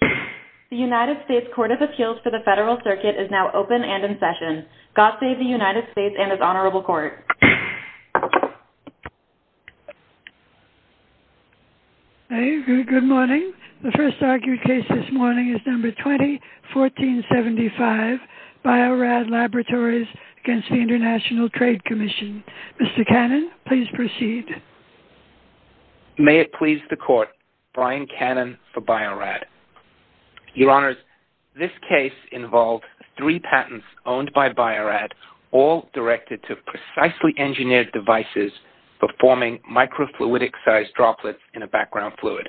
The United States Court of Appeals for the Federal Circuit is now open and in session. God save the United States and His Honorable Court. Good morning. The first argued case this morning is No. 20-1475, Bio-Rad Laboratories, Inc. v. International Trade Commission. Mr. Cannon, please proceed. May it please the Court, Brian Cannon for Bio-Rad. Your Honors, this case involved three patents owned by Bio-Rad, all directed to precisely engineered devices for forming microfluidic-sized droplets in a background fluid.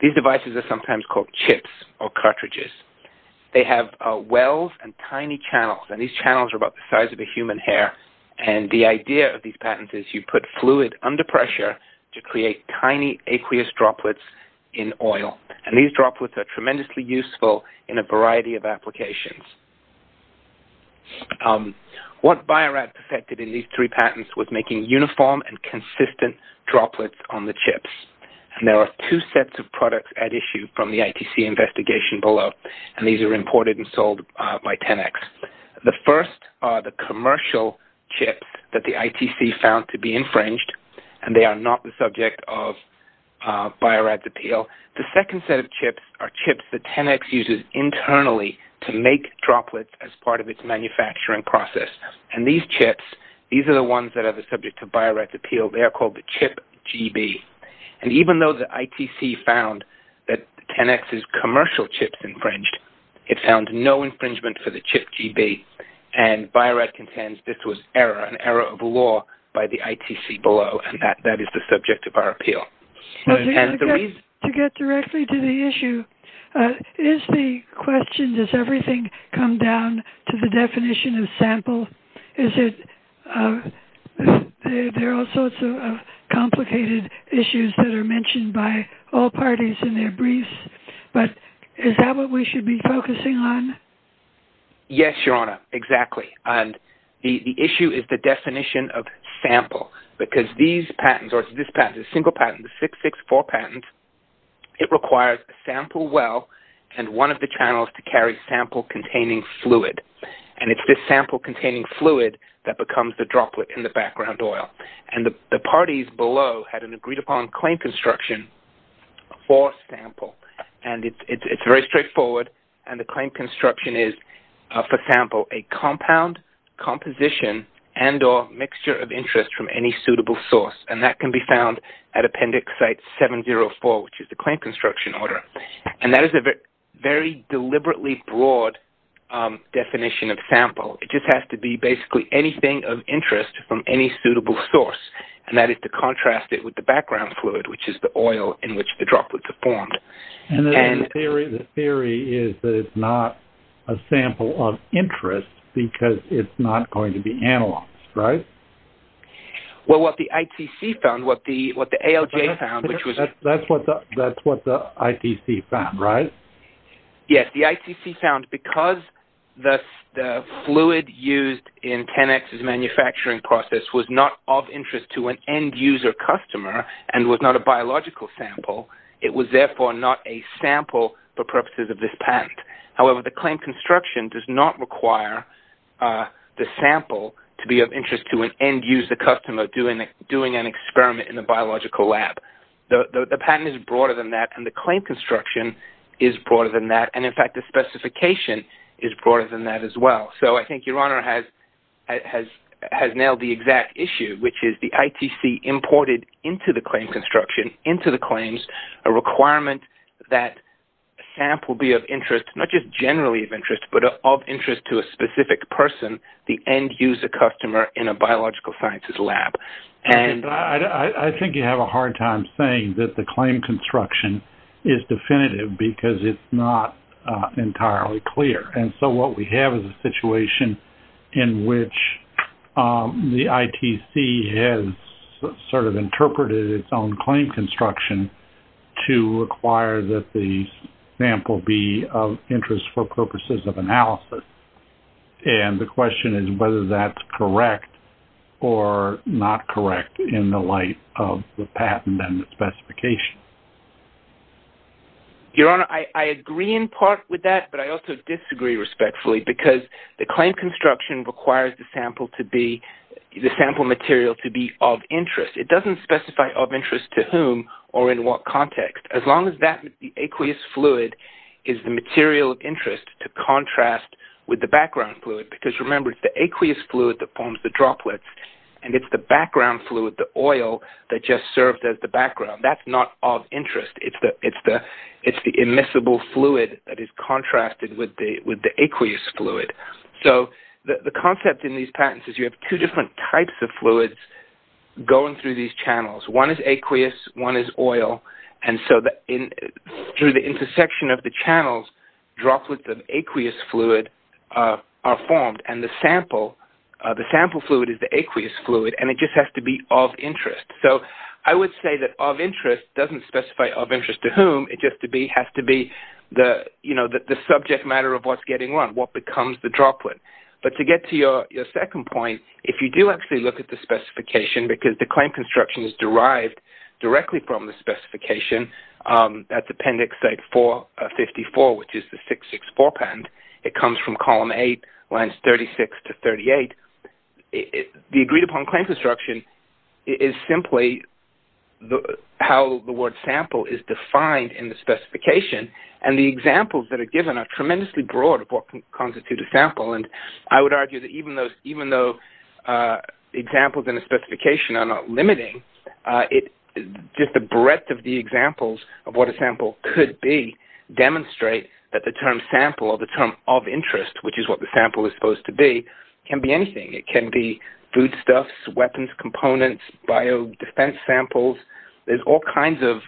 These devices are sometimes called chips or cartridges. They have wells and tiny channels, and these channels are about the size of a human hair. And the idea of these patents is you put fluid under pressure to create tiny aqueous droplets in oil. And these droplets are tremendously useful in a variety of applications. What Bio-Rad perfected in these three patents was making uniform and consistent droplets on the chips. And there are two sets of products at issue from the ITC investigation below, and these are imported and sold by Tenex. The first are the commercial chips that the ITC found to be infringed, and they are not the subject of Bio-Rad's appeal. The second set of chips are chips that Tenex uses internally to make droplets as part of its manufacturing process. And these chips, these are the ones that are the subject of Bio-Rad's appeal. They are called the Chip GB. And even though the ITC found that Tenex's commercial chips infringed, it found no infringement for the Chip GB, and Bio-Rad contends this was an error of law by the ITC below, and that is the subject of our appeal. To get directly to the issue, is the question, does everything come down to the definition of sample? Is it there are all sorts of complicated issues that are mentioned by all parties in their briefs, but is that what we should be focusing on? Yes, Your Honor, exactly. And the issue is the definition of sample, because these patents, or this patent, this single patent, the 664 patent, it requires a sample well and one of the channels to carry sample-containing fluid. And it's this sample-containing fluid that becomes the droplet in the background oil. And the parties below had an agreed-upon claim construction for sample. And it's very straightforward, and the claim construction is, for sample, a compound, composition, and or mixture of interest from any suitable source. And that can be found at Appendix Site 704, which is the claim construction order. And that is a very deliberately broad definition of sample. It just has to be basically anything of interest from any suitable source, and that is to contrast it with the background fluid, which is the oil in which the droplets are formed. And the theory is that it's not a sample of interest because it's not going to be analyzed, right? Well, what the ITC found, what the ALJ found, which was – That's what the ITC found, right? Yes. The ITC found because the fluid used in 10X's manufacturing process was not of interest to an end-user customer and was not a biological sample, it was therefore not a sample for purposes of this patent. However, the claim construction does not require the sample to be of interest to an end-user customer doing an experiment in a biological lab. The patent is broader than that, and the claim construction is broader than that. And in fact, the specification is broader than that as well. So I think Your Honor has nailed the exact issue, which is the ITC imported into the claim construction, into the claims a requirement that a sample be of interest, not just generally of interest, but of interest to a specific person, the end-user customer in a biological sciences lab. I think you have a hard time saying that the claim construction is definitive because it's not entirely clear. And so what we have is a situation in which the ITC has sort of interpreted its own claim construction to require that the sample be of interest for purposes of analysis. And the question is whether that's correct or not correct in the light of the patent and the specification. Your Honor, I agree in part with that, but I also disagree respectfully because the claim construction requires the sample material to be of interest. It doesn't specify of interest to whom or in what context. As long as that aqueous fluid is the material of interest to contrast with the background fluid, because remember, it's the aqueous fluid that forms the droplets, and it's the background fluid, the oil, that just serves as the background. That's not of interest. It's the immiscible fluid that is contrasted with the aqueous fluid. So the concept in these patents is you have two different types of fluids going through these channels. One is aqueous, one is oil. And so through the intersection of the channels, droplets of aqueous fluid are formed, and the sample fluid is the aqueous fluid, and it just has to be of interest. So I would say that of interest doesn't specify of interest to whom. It just has to be the subject matter of what's getting run, what becomes the droplet. But to get to your second point, if you do actually look at the specification, because the claim construction is derived directly from the specification. That's Appendix A454, which is the 664 patent. It comes from Column A, Lines 36 to 38. The agreed-upon claim construction is simply how the word sample is defined in the specification, and the examples that are given are tremendously broad of what can constitute a sample. And I would argue that even though examples in a specification are not limiting, just the breadth of the examples of what a sample could be demonstrate that the term sample, or the term of interest, which is what the sample is supposed to be, can be anything. It can be foodstuffs, weapons components, biodefense samples. There's all kinds of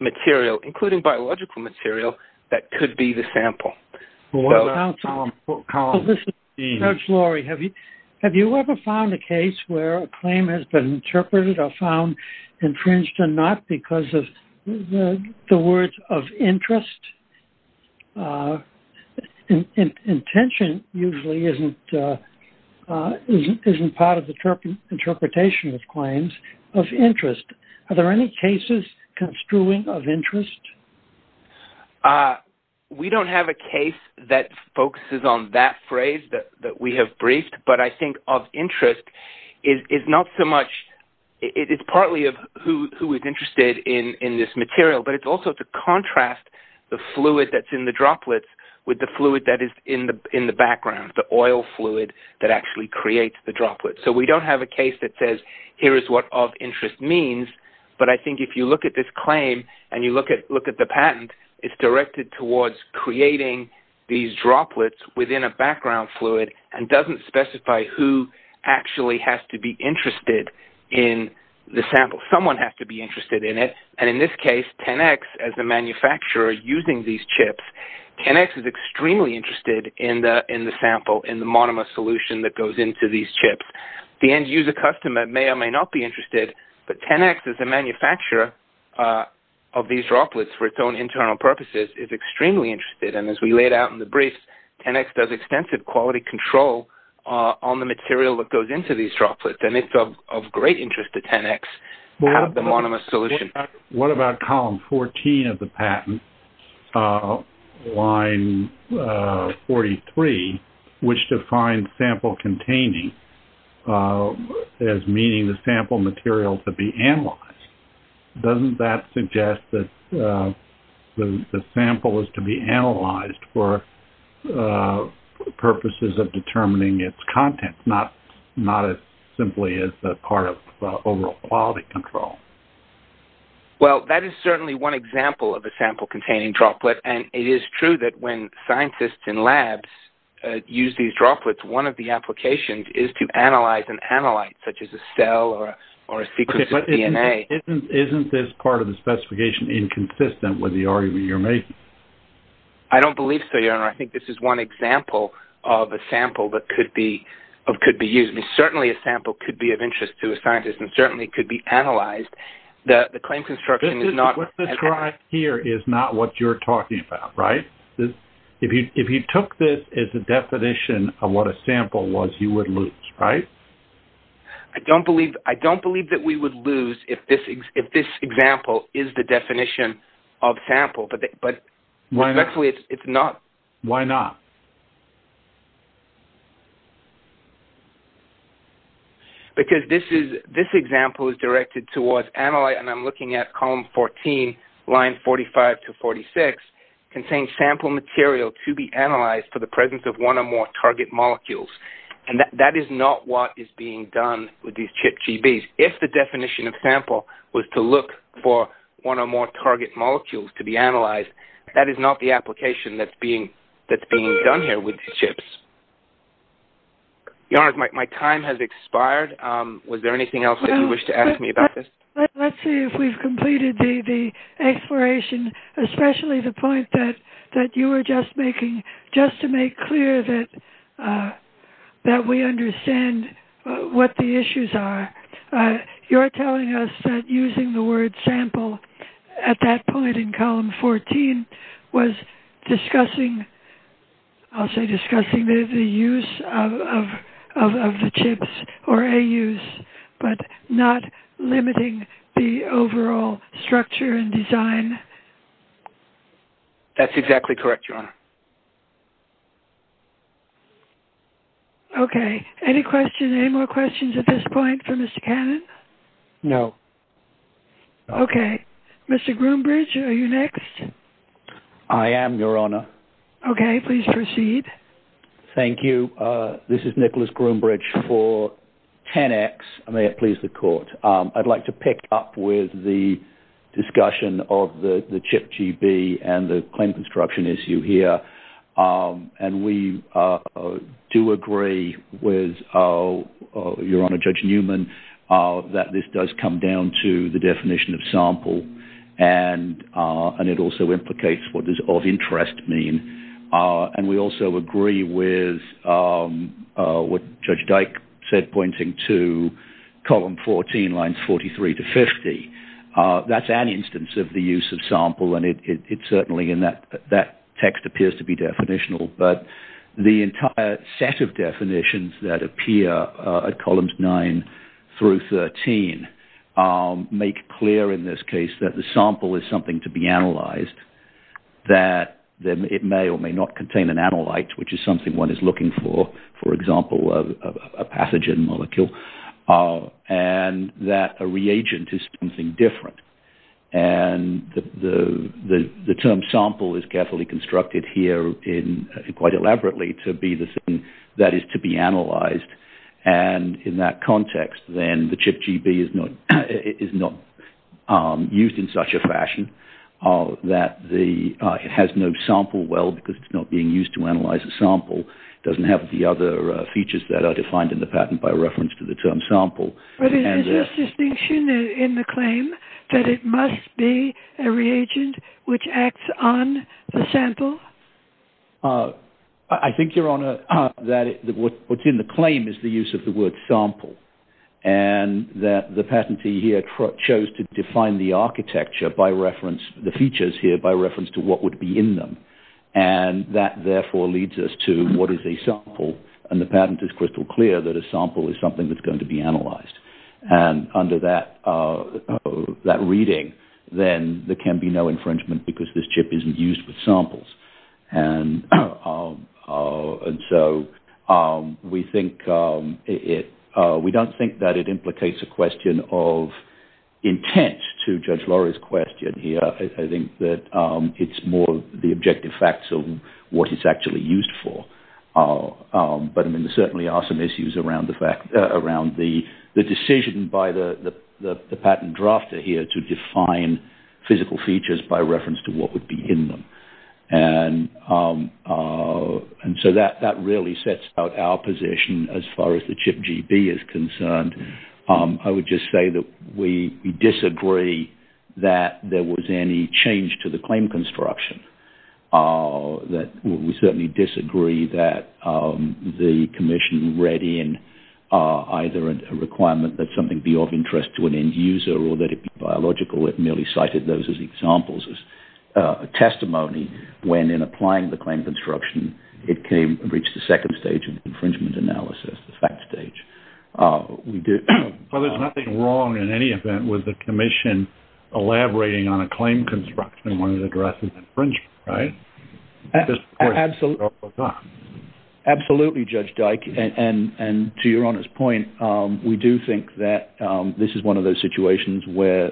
material, including biological material, that could be the sample. Well, this is Doug Flory. Have you ever found a case where a claim has been interpreted or found infringed or not because of the words of interest? Intention usually isn't part of the interpretation of claims. Of interest, are there any cases construing of interest? We don't have a case that focuses on that phrase that we have briefed, but I think of interest is partly of who is interested in this material, but it's also to contrast the fluid that's in the droplets with the fluid that is in the background, the oil fluid that actually creates the droplets. So we don't have a case that says, here is what of interest means, but I think if you look at this claim and you look at the patent, it's directed towards creating these droplets within a background fluid and doesn't specify who actually has to be interested in the sample. Someone has to be interested in it, and in this case, 10X, as the manufacturer using these chips, 10X is extremely interested in the sample, in the monomer solution that goes into these chips. The end-user customer may or may not be interested, but 10X, as the manufacturer of these droplets for its own internal purposes, is extremely interested, and as we laid out in the brief, 10X does extensive quality control on the material that goes into these droplets, and it's of great interest to 10X to have the monomer solution. What about column 14 of the patent, line 43, which defines sample containing as meaning the sample material to be analyzed? Doesn't that suggest that the sample is to be analyzed for purposes of determining its content, not as simply as part of overall quality control? Well, that is certainly one example of a sample-containing droplet, and it is true that when scientists in labs use these droplets, one of the applications is to analyze and analyze, such as a cell or a sequence of DNA. Isn't this part of the specification inconsistent with the argument you're making? I don't believe so, Your Honor. I think this is one example of a sample that could be used. I mean, certainly a sample could be of interest to a scientist and certainly could be analyzed. The claim construction is not- What's described here is not what you're talking about, right? If you took this as a definition of what a sample was, you would lose, right? I don't believe that we would lose if this example is the definition of sample, but actually it's not. Why not? Because this example is directed towards analyte, and I'm looking at column 14, line 45 to 46, contains sample material to be analyzed for the presence of one or more target molecules, and that is not what is being done with these ChIP-GBs. If the definition of sample was to look for one or more target molecules to be analyzed, that is not the application that's being done here with these ChIPs. Your Honor, my time has expired. Was there anything else that you wish to ask me about this? Let's see if we've completed the exploration, especially the point that you were just making, but just to make clear that we understand what the issues are, you're telling us that using the word sample at that point in column 14 was discussing- I'll say discussing the use of the ChIPs or AUs, but not limiting the overall structure and design? That's exactly correct, Your Honor. Okay. Any questions? Any more questions at this point for Mr. Cannon? No. Okay. Mr. Groombridge, are you next? I am, Your Honor. Okay. Please proceed. Thank you. This is Nicholas Groombridge for 10X. May it please the Court. I'd like to pick up with the discussion of the ChIP-GB and the claim construction issue here, and we do agree with Your Honor, Judge Newman, that this does come down to the definition of sample, and it also implicates what does of interest mean, and we also agree with what Judge Dyke said, pointing to column 14, lines 43 to 50. That's an instance of the use of sample, and it certainly in that text appears to be definitional, but the entire set of definitions that appear at columns 9 through 13 make clear in this case that the sample is something to be analyzed, that it may or may not contain an analyte, which is something one is looking for, for example, a pathogen molecule, and that a reagent is something different, and the term sample is carefully constructed here quite elaborately to be the thing that is to be analyzed, and in that context, then the ChIP-GB is not used in such a fashion that it has no sample well because it's not being used to analyze a sample. It doesn't have the other features that are defined in the patent by reference to the term sample. But is there a distinction in the claim that it must be a reagent which acts on the sample? I think, Your Honor, that what's in the claim is the use of the word sample, and that the patentee here chose to define the architecture by reference, the features here by reference to what would be in them, and that therefore leads us to what is a sample, and the patent is crystal clear that a sample is something that's going to be analyzed, and under that reading, then there can be no infringement because this ChIP isn't used with samples, and so we don't think that it implicates a question of intent to Judge Laurie's question here. I think that it's more the objective facts of what it's actually used for, but there certainly are some issues around the decision by the patent drafter here to define physical features by reference to what would be in them, and so that really sets out our position as far as the ChIP-GB is concerned. I would just say that we disagree that there was any change to the claim construction. We certainly disagree that the commission read in either a requirement that something be of interest to an end user or that it be biological. It merely cited those as examples as testimony when, in applying the claim construction, it reached the second stage of infringement analysis, the fact stage. Well, there's nothing wrong in any event with the commission elaborating on a claim construction when it addresses infringement, right? Absolutely, Judge Dyke, and to your honest point, we do think that this is one of those situations where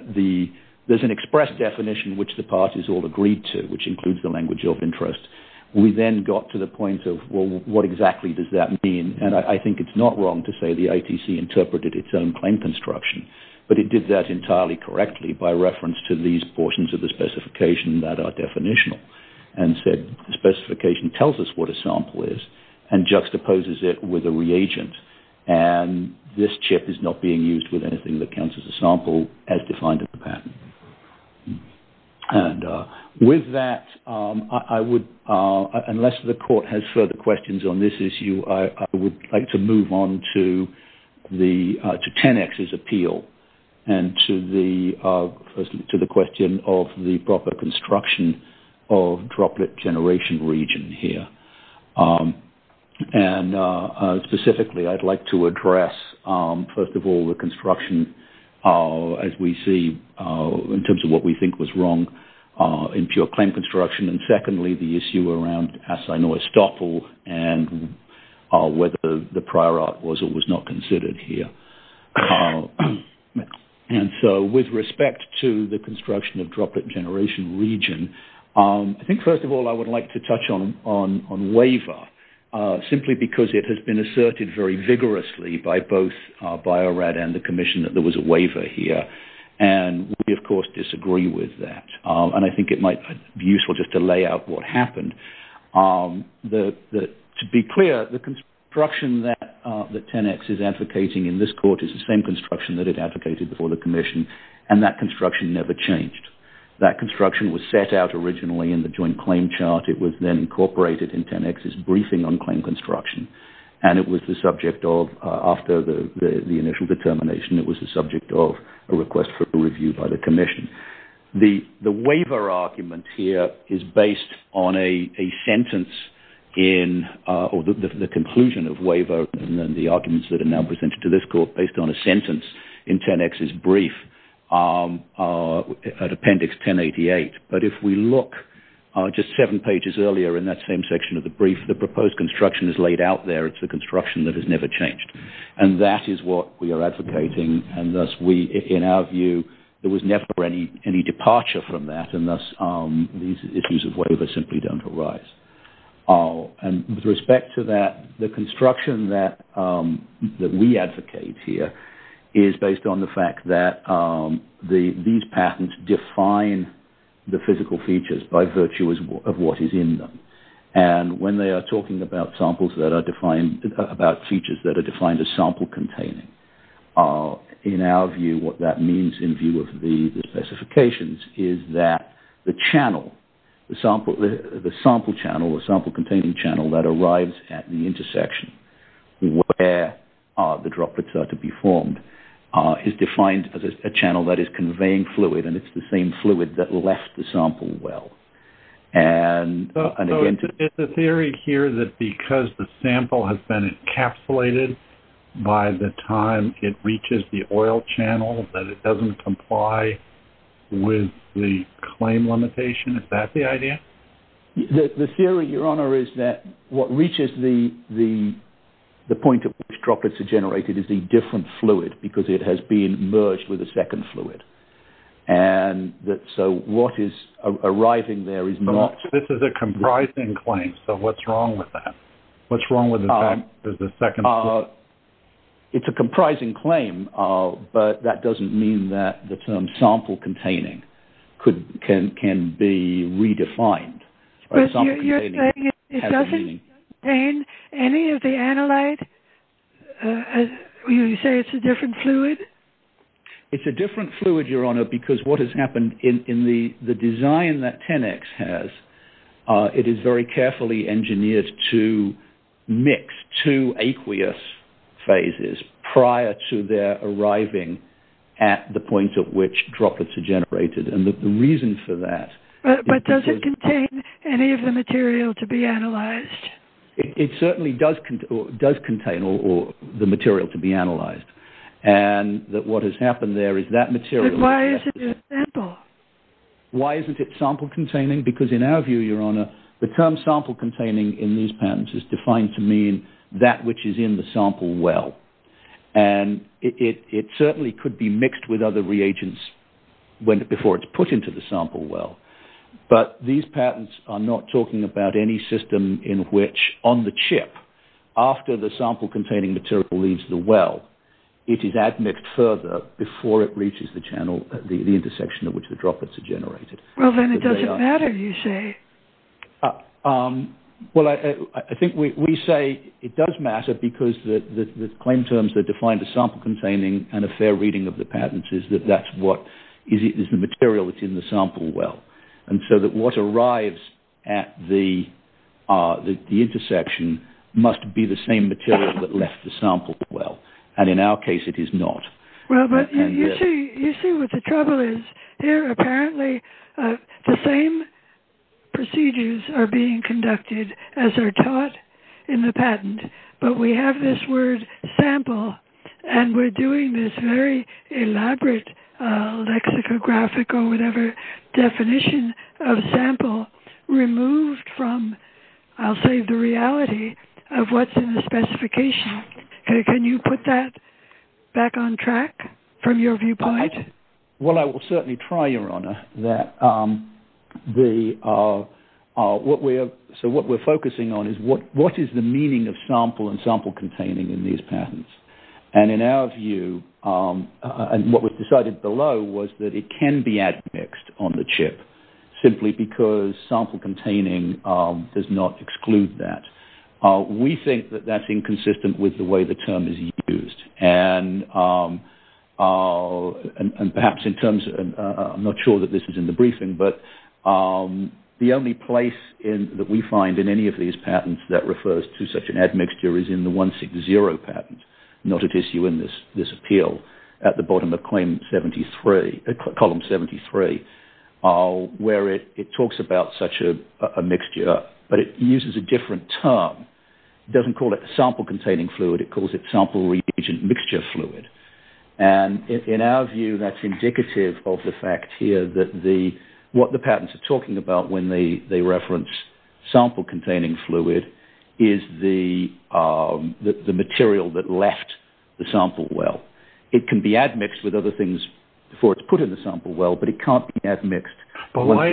there's an express definition which the parties all agreed to, which includes the language of interest. We then got to the point of, well, what exactly does that mean, and I think it's not wrong to say the ITC interpreted its own claim construction, but it did that entirely correctly by reference to these portions of the specification that are definitional and said the specification tells us what a sample is and juxtaposes it with a reagent, and this chip is not being used with anything that counts as a sample as defined in the patent. And with that, unless the court has further questions on this issue, I would like to move on to 10X's appeal and to the question of the proper construction of droplet generation region here. And specifically, I'd like to address, first of all, the construction, as we see, in terms of what we think was wrong in pure claim construction, and secondly, the issue around Assay-Neustoppel and whether the prior art was or was not considered here. And so, with respect to the construction of droplet generation region, I think, first of all, I would like to touch on waiver, simply because it has been asserted very vigorously by both Bio-Rad and the commission that there was a waiver here, and we, of course, disagree with that. And I think it might be useful just to lay out what happened. To be clear, the construction that 10X is advocating in this court is the same construction that it advocated before the commission, and that construction never changed. That construction was set out originally in the joint claim chart. It was then incorporated in 10X's briefing on claim construction, and it was the subject of, after the initial determination, it was the subject of a request for review by the commission. The waiver argument here is based on a sentence in, or the conclusion of waiver, and then the arguments that are now presented to this court, based on a sentence in 10X's brief, at appendix 1088. But if we look just seven pages earlier in that same section of the brief, the proposed construction is laid out there. It's the construction that has never changed, and that is what we are advocating, and thus we, in our view, there was never any departure from that, and thus these issues of waiver simply don't arise. With respect to that, the construction that we advocate here is based on the fact that these patents define the physical features by virtue of what is in them, and when they are talking about features that are defined as sample-containing, in our view, what that means in view of the specifications is that the channel, the sample channel, the sample-containing channel that arrives at the intersection where the droplets are to be formed, is defined as a channel that is conveying fluid, and it's the same fluid that left the sample well. So is the theory here that because the sample has been encapsulated by the time it reaches the oil channel, that it doesn't comply with the claim limitation? Is that the idea? The theory, Your Honor, is that what reaches the point at which droplets are generated is a different fluid, because it has been merged with a second fluid. So what is arriving there is not... This is a comprising claim, so what's wrong with that? What's wrong with the fact that there's a second... It's a comprising claim, but that doesn't mean that the term sample-containing can be redefined. But you're saying it doesn't contain any of the analyte? You say it's a different fluid? It's a different fluid, Your Honor, because what has happened in the design that 10X has, it is very carefully engineered to mix two aqueous phases prior to their arriving at the point at which droplets are generated. And the reason for that... But does it contain any of the material to be analyzed? But why isn't it a sample? Why isn't it sample-containing? Because in our view, Your Honor, the term sample-containing in these patents is defined to mean that which is in the sample well. And it certainly could be mixed with other reagents before it's put into the sample well. But these patents are not talking about any system in which, on the chip, after the sample-containing material leaves the well, it is admixed further before it reaches the channel, the intersection at which the droplets are generated. Well, then it doesn't matter, you say. Well, I think we say it does matter because the claim terms that define the sample-containing and a fair reading of the patents is that that's what is the material that's in the sample well. And so that what arrives at the intersection must be the same material that left the sample well. And in our case, it is not. Well, but you see what the trouble is. Here, apparently, the same procedures are being conducted as are taught in the patent. But we have this word sample, and we're doing this very elaborate lexicographic or whatever definition of sample removed from, I'll say, the reality of what's in the specification. Can you put that back on track from your viewpoint? Well, I will certainly try, Your Honor. So what we're focusing on is what is the meaning of sample and sample-containing in these patents. And in our view, what was decided below was that it can be admixed on the chip simply because sample-containing does not exclude that. We think that that's inconsistent with the way the term is used. And perhaps in terms of, I'm not sure that this is in the briefing, but the only place that we find in any of these patents that refers to such an admixture is in the 160 patent. Not at issue in this appeal. At the bottom of Column 73, where it talks about such a mixture, but it uses a different term. It doesn't call it sample-containing fluid. It calls it sample-reagent mixture fluid. And in our view, that's indicative of the fact here that what the patents are talking about when they reference sample-containing fluid is the material that left the sample well. It can be admixed with other things before it's put in the sample well, but it can't be admixed. But why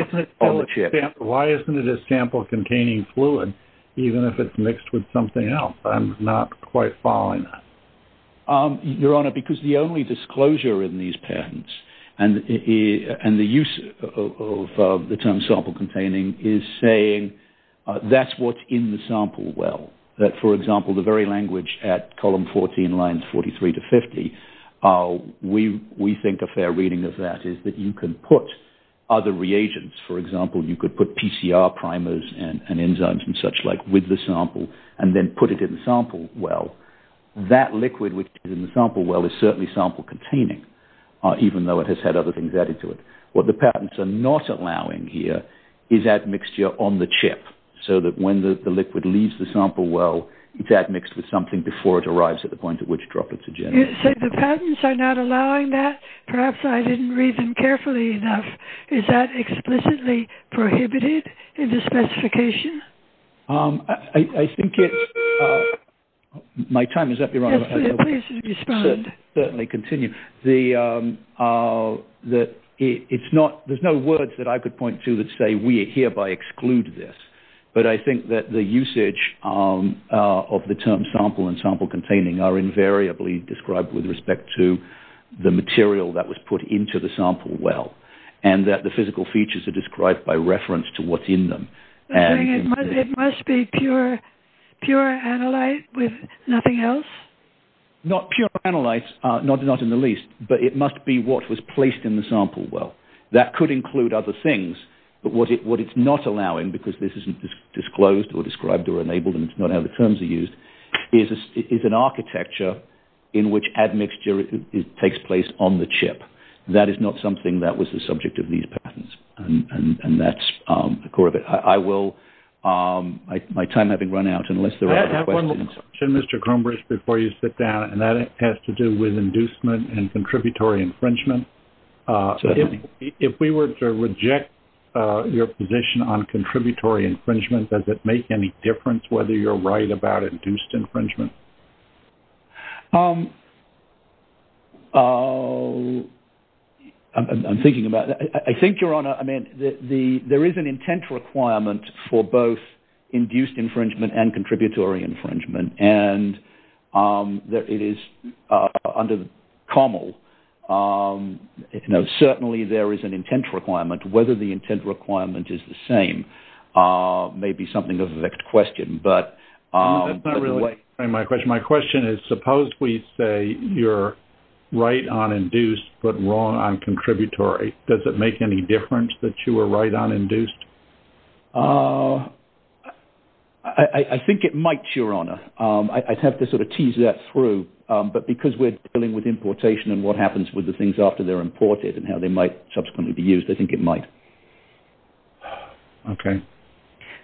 isn't it a sample-containing fluid even if it's mixed with something else? I'm not quite following that. Your Honor, because the only disclosure in these patents and the use of the term sample-containing is saying that's what's in the sample well. That, for example, the very language at Column 14, Lines 43 to 50, we think a fair reading of that is that you can put other reagents. For example, you could put PCR primers and enzymes and such like with the sample and then put it in the sample well. That liquid which is in the sample well is certainly sample-containing, even though it has had other things added to it. What the patents are not allowing here is that mixture on the chip, so that when the liquid leaves the sample well, it's admixed with something before it arrives at the point at which droplets are generated. You said the patents are not allowing that? Perhaps I didn't read them carefully enough. Is that explicitly prohibited in the specification? I think it's – my time is up, Your Honor. Yes, please respond. Certainly continue. There's no words that I could point to that say we hereby exclude this, but I think that the usage of the term sample and sample-containing are invariably described with respect to the material that was put into the sample well and that the physical features are described by reference to what's in them. It must be pure analyte with nothing else? Not pure analyte, not in the least, but it must be what was placed in the sample well. That could include other things, but what it's not allowing, because this isn't disclosed or described or enabled, and it's not how the terms are used, is an architecture in which admixture takes place on the chip. That is not something that was the subject of these patents, and that's the core of it. I will – my time having run out, unless there are other questions. I have one more question, Mr. Kronbrich, before you sit down, and that has to do with inducement and contributory infringement. Certainly. If we were to reject your position on contributory infringement, does it make any difference whether you're right about induced infringement? I'm thinking about it. I think, Your Honor, I mean, there is an intent requirement for both induced infringement and contributory infringement, and it is under the COML. Certainly, there is an intent requirement. Whether the intent requirement is the same may be something of a vexed question, That's not really answering my question. My question is, suppose we say you're right on induced but wrong on contributory. Does it make any difference that you were right on induced? I think it might, Your Honor. I'd have to sort of tease that through, but because we're dealing with importation and what happens with the things after they're imported and how they might subsequently be used, I think it might. Okay.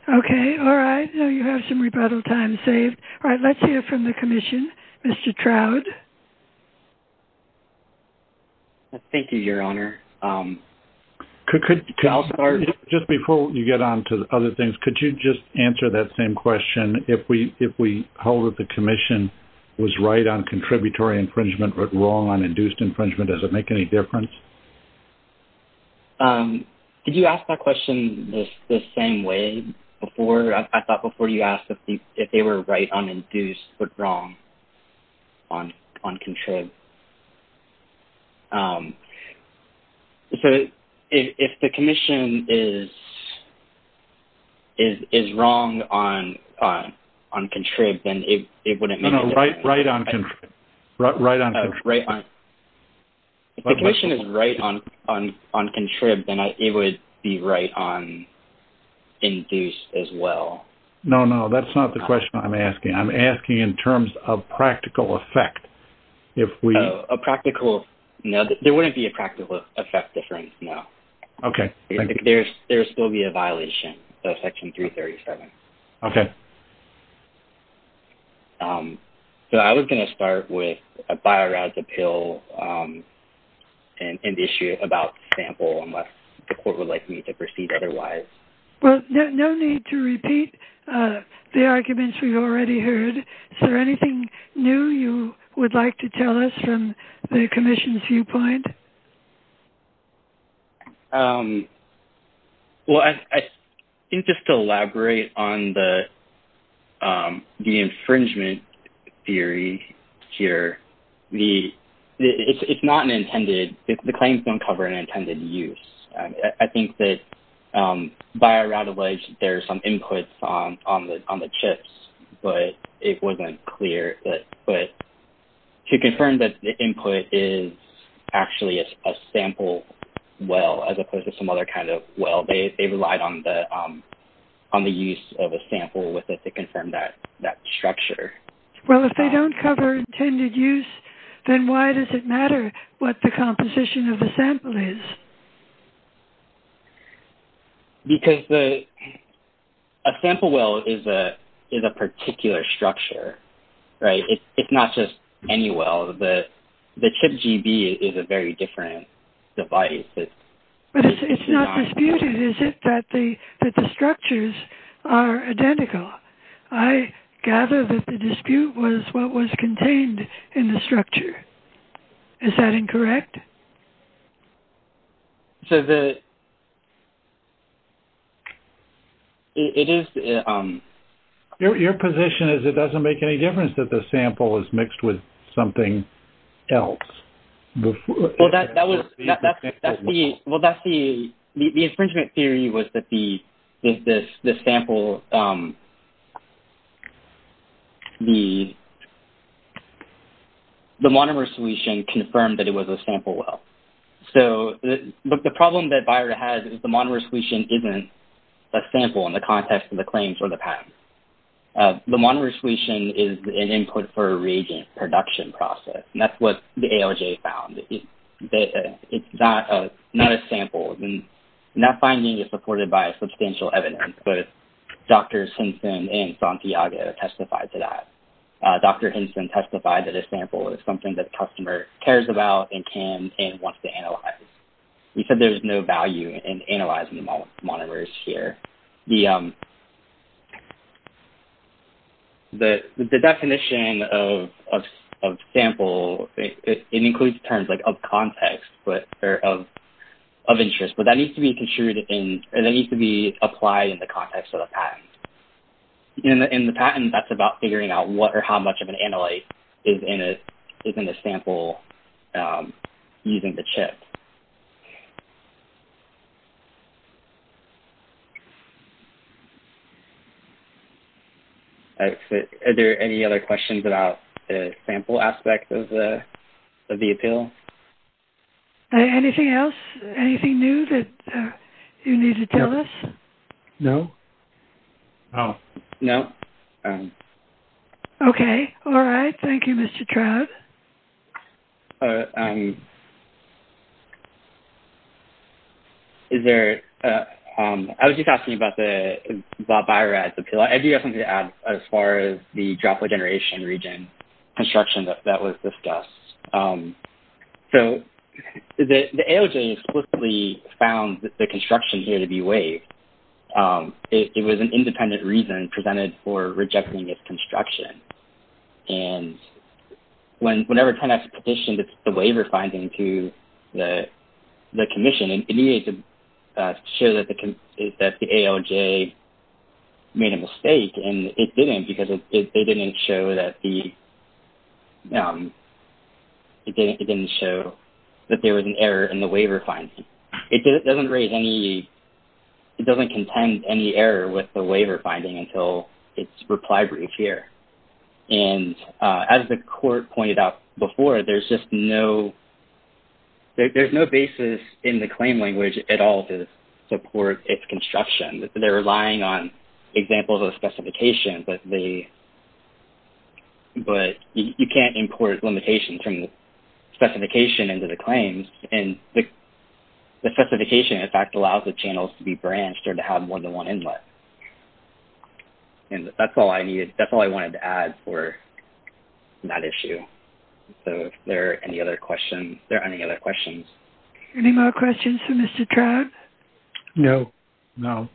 Okay. All right. Now you have some rebuttal time saved. All right. Let's hear from the Commission. Mr. Trout. Thank you, Your Honor. Just before you get on to other things, could you just answer that same question? If we hold that the Commission was right on contributory infringement but wrong on induced infringement, does it make any difference? Did you ask that question the same way before? I thought before you asked if they were right on induced but wrong on contrib. So if the Commission is wrong on contrib, then it wouldn't make any difference. No, right on contrib. Right on contrib. If the Commission is right on contrib, then it would be right on induced as well. No, no. That's not the question I'm asking. I'm asking in terms of practical effect. A practical? No, there wouldn't be a practical effect difference, no. Okay. There would still be a violation of Section 337. Okay. Okay. So I was going to start with a BioRADS appeal and issue about sample, unless the Court would like me to proceed otherwise. Well, no need to repeat the arguments we've already heard. Is there anything new you would like to tell us from the Commission's viewpoint? Well, I think just to elaborate on the infringement theory here, it's not an intended – the claims don't cover an intended use. I think that BioRAD alleged there are some inputs on the chips, but it wasn't clear. To confirm that the input is actually a sample well, as opposed to some other kind of well, they relied on the use of a sample with it to confirm that structure. Well, if they don't cover intended use, then why does it matter what the composition of the sample is? Because a sample well is a particular structure, right? It's not just any well. The chip GB is a very different device. But it's not disputed, is it, that the structures are identical? I gather that the dispute was what was contained in the structure. Is that incorrect? So the – it is – Your position is it doesn't make any difference that the sample is mixed with something else. Well, that was – that's the – well, that's the – the infringement theory was that the sample – the monomer solution confirmed that it was a sample well. So the problem that BioRAD has is the monomer solution isn't a sample in the context of the claims for the patent. The monomer solution is an input for a reagent production process, and that's what the ALJ found. It's not a sample. And that finding is supported by substantial evidence, but Drs. Hinson and Santiago testified to that. Dr. Hinson testified that a sample is something that the customer cares about and can and wants to analyze. He said there's no value in analyzing the monomers here. The definition of sample – it includes terms like of context or of interest, but that needs to be construed in – that needs to be applied in the context of the patent. In the patent, that's about figuring out what or how much of an analyte is in a sample using the chip. Are there any other questions about the sample aspect of the appeal? Anything else? Anything new that you need to tell us? No. No. Okay. All right. Thank you, Mr. Trout. I was just asking about BioRAD's appeal. I do have something to add as far as the droplet generation region construction that was discussed. So the ALJ explicitly found the construction here to be waived. It was an independent reason presented for rejecting its construction. And whenever TANF petitioned the waiver finding to the commission, it needed to show that the ALJ made a mistake, and it didn't because it didn't show that the – it didn't show that there was an error in the waiver finding. It doesn't raise any – it doesn't contend any error with the waiver finding until its reply brief here. And as the court pointed out before, there's just no – there's no basis in the claim language at all to support its construction. They're relying on examples of specification, but they – but you can't import limitations from specification into the claims. And the specification, in fact, allows the channels to be branched or to have more than one inlet. And that's all I needed – that's all I wanted to add for that issue. So if there are any other questions – are there any other questions? Any more questions for Mr. Trout? No. No.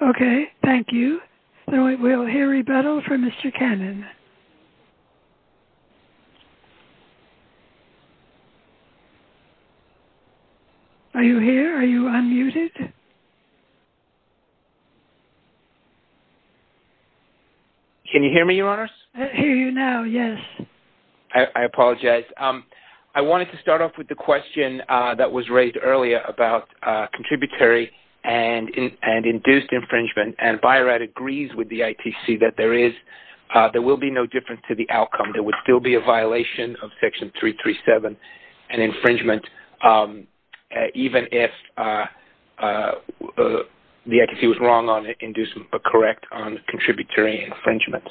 Okay. Thank you. Then we'll hear rebuttal from Mr. Cannon. Are you here? Are you unmuted? Can you hear me, Your Honors? I hear you now, yes. I apologize. Yes, I wanted to start off with the question that was raised earlier about contributory and induced infringement. And BI-RAD agrees with the ITC that there is – there will be no difference to the outcome. There would still be a violation of Section 337 and infringement even if the ITC was wrong on it and correct on contributory infringement.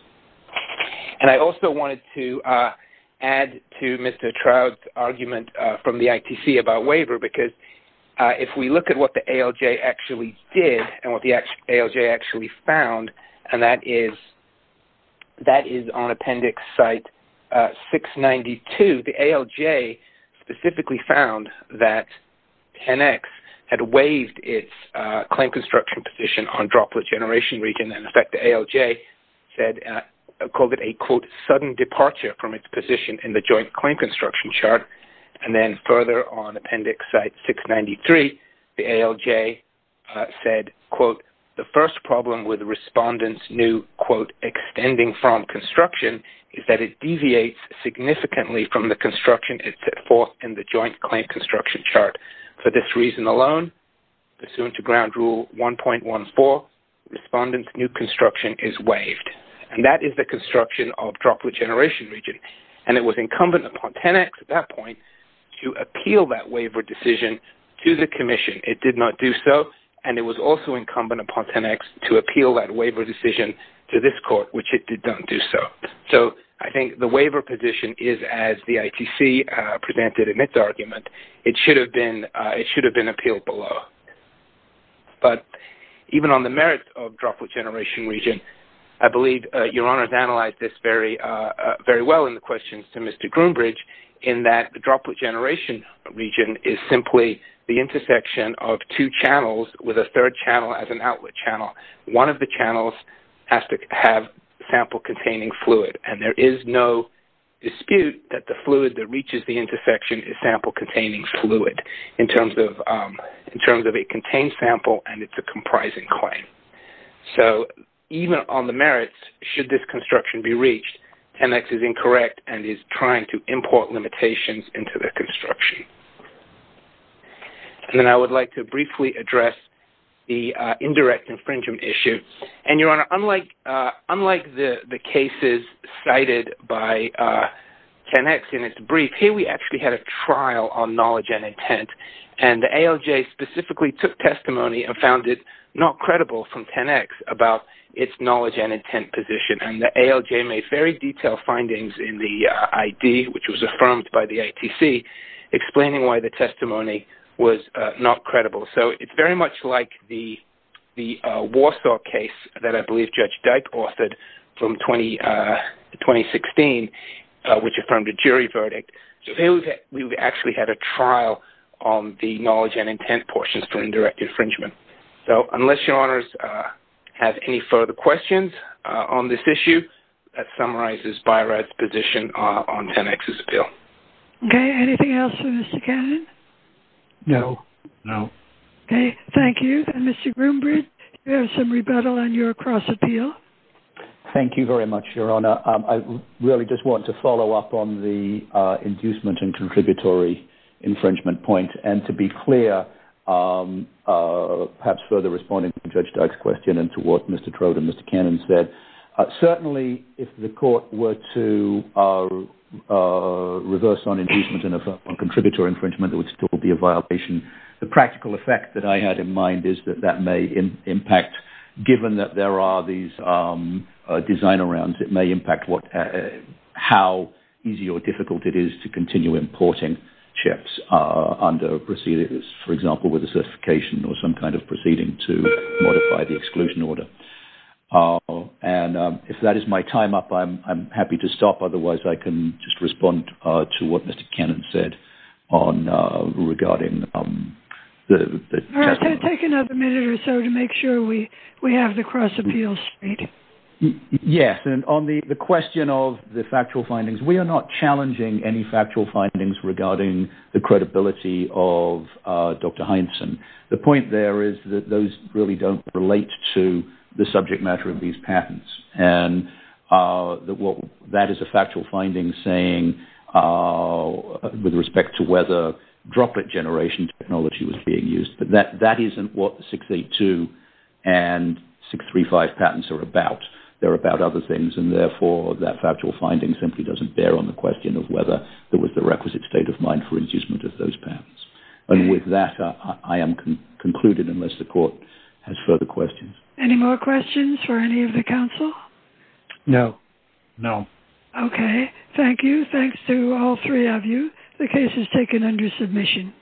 And I also wanted to add to Mr. Trout's argument from the ITC about waiver because if we look at what the ALJ actually did and what the ALJ actually found – and that is on Appendix Site 692 – the ALJ specifically found that 10X had waived its claim construction position on droplet generation region. And in fact, the ALJ said – called it a, quote, sudden departure from its position in the joint claim construction chart. And then further on Appendix Site 693, the ALJ said, quote, the first problem with respondents' new, quote, extending from construction is that it deviates significantly from the construction it set forth in the joint claim construction chart. For this reason alone, pursuant to Ground Rule 1.14, respondents' new construction is waived. And that is the construction of droplet generation region. And it was incumbent upon 10X at that point to appeal that waiver decision to the commission. It did not do so. And it was also incumbent upon 10X to appeal that waiver decision to this court, which it did not do so. So, I think the waiver position is, as the ITC presented in its argument, it should have been appealed below. But even on the merits of droplet generation region, I believe Your Honors analyzed this very well in the questions to Mr. Groombridge, in that the droplet generation region is simply the intersection of two channels with a third channel as an outlet channel. One of the channels has to have sample-containing fluid. And there is no dispute that the fluid that reaches the intersection is sample-containing fluid in terms of it contains sample and it's a comprising claim. So, even on the merits, should this construction be reached, 10X is incorrect and is trying to import limitations into the construction. And then I would like to briefly address the indirect infringement issue. And, Your Honor, unlike the cases cited by 10X in its brief, here we actually had a trial on knowledge and intent. And the ALJ specifically took testimony and found it not credible from 10X about its knowledge and intent position. And the ALJ made very detailed findings in the ID, which was affirmed by the ITC, explaining why the testimony was not credible. So, it's very much like the Warsaw case that I believe Judge Dyke authored from 2016, which affirmed a jury verdict. So, we actually had a trial on the knowledge and intent portions for indirect infringement. So, unless Your Honors have any further questions on this issue, that summarizes BI-RAD's position on 10X's appeal. Okay. Anything else for Mr. Cannon? No. No. Okay. Thank you. And Mr. Groombridge, do you have some rebuttal on your cross-appeal? Thank you very much, Your Honor. I really just want to follow up on the inducement and contributory infringement point. And to be clear, perhaps further responding to Judge Dyke's question and to what Mr. Trode and Mr. Cannon said, certainly if the court were to reverse on inducement and on contributory infringement, there would still be a violation. The practical effect that I had in mind is that that may impact, given that there are these design-arounds, it may impact how easy or difficult it is to continue importing chips under procedures, for example, with a certification or some kind of proceeding to modify the exclusion order. And if that is my time up, I'm happy to stop. Otherwise, I can just respond to what Mr. Cannon said regarding the task force. All right. Take another minute or so to make sure we have the cross-appeal straight. Yes. And on the question of the factual findings, we are not challenging any factual findings regarding the credibility of Dr. Hindson. The point there is that those really don't relate to the subject matter of these patents. And that is a factual finding saying with respect to whether droplet generation technology was being used. But that isn't what 682 and 635 patents are about. They're about other things. And therefore, that factual finding simply doesn't bear on the question of whether there was the requisite state of mind for inducement of those patents. And with that, I am concluded unless the court has further questions. Any more questions for any of the counsel? No. No. Okay. Thank you. Thanks to all three of you. The case is taken under submission.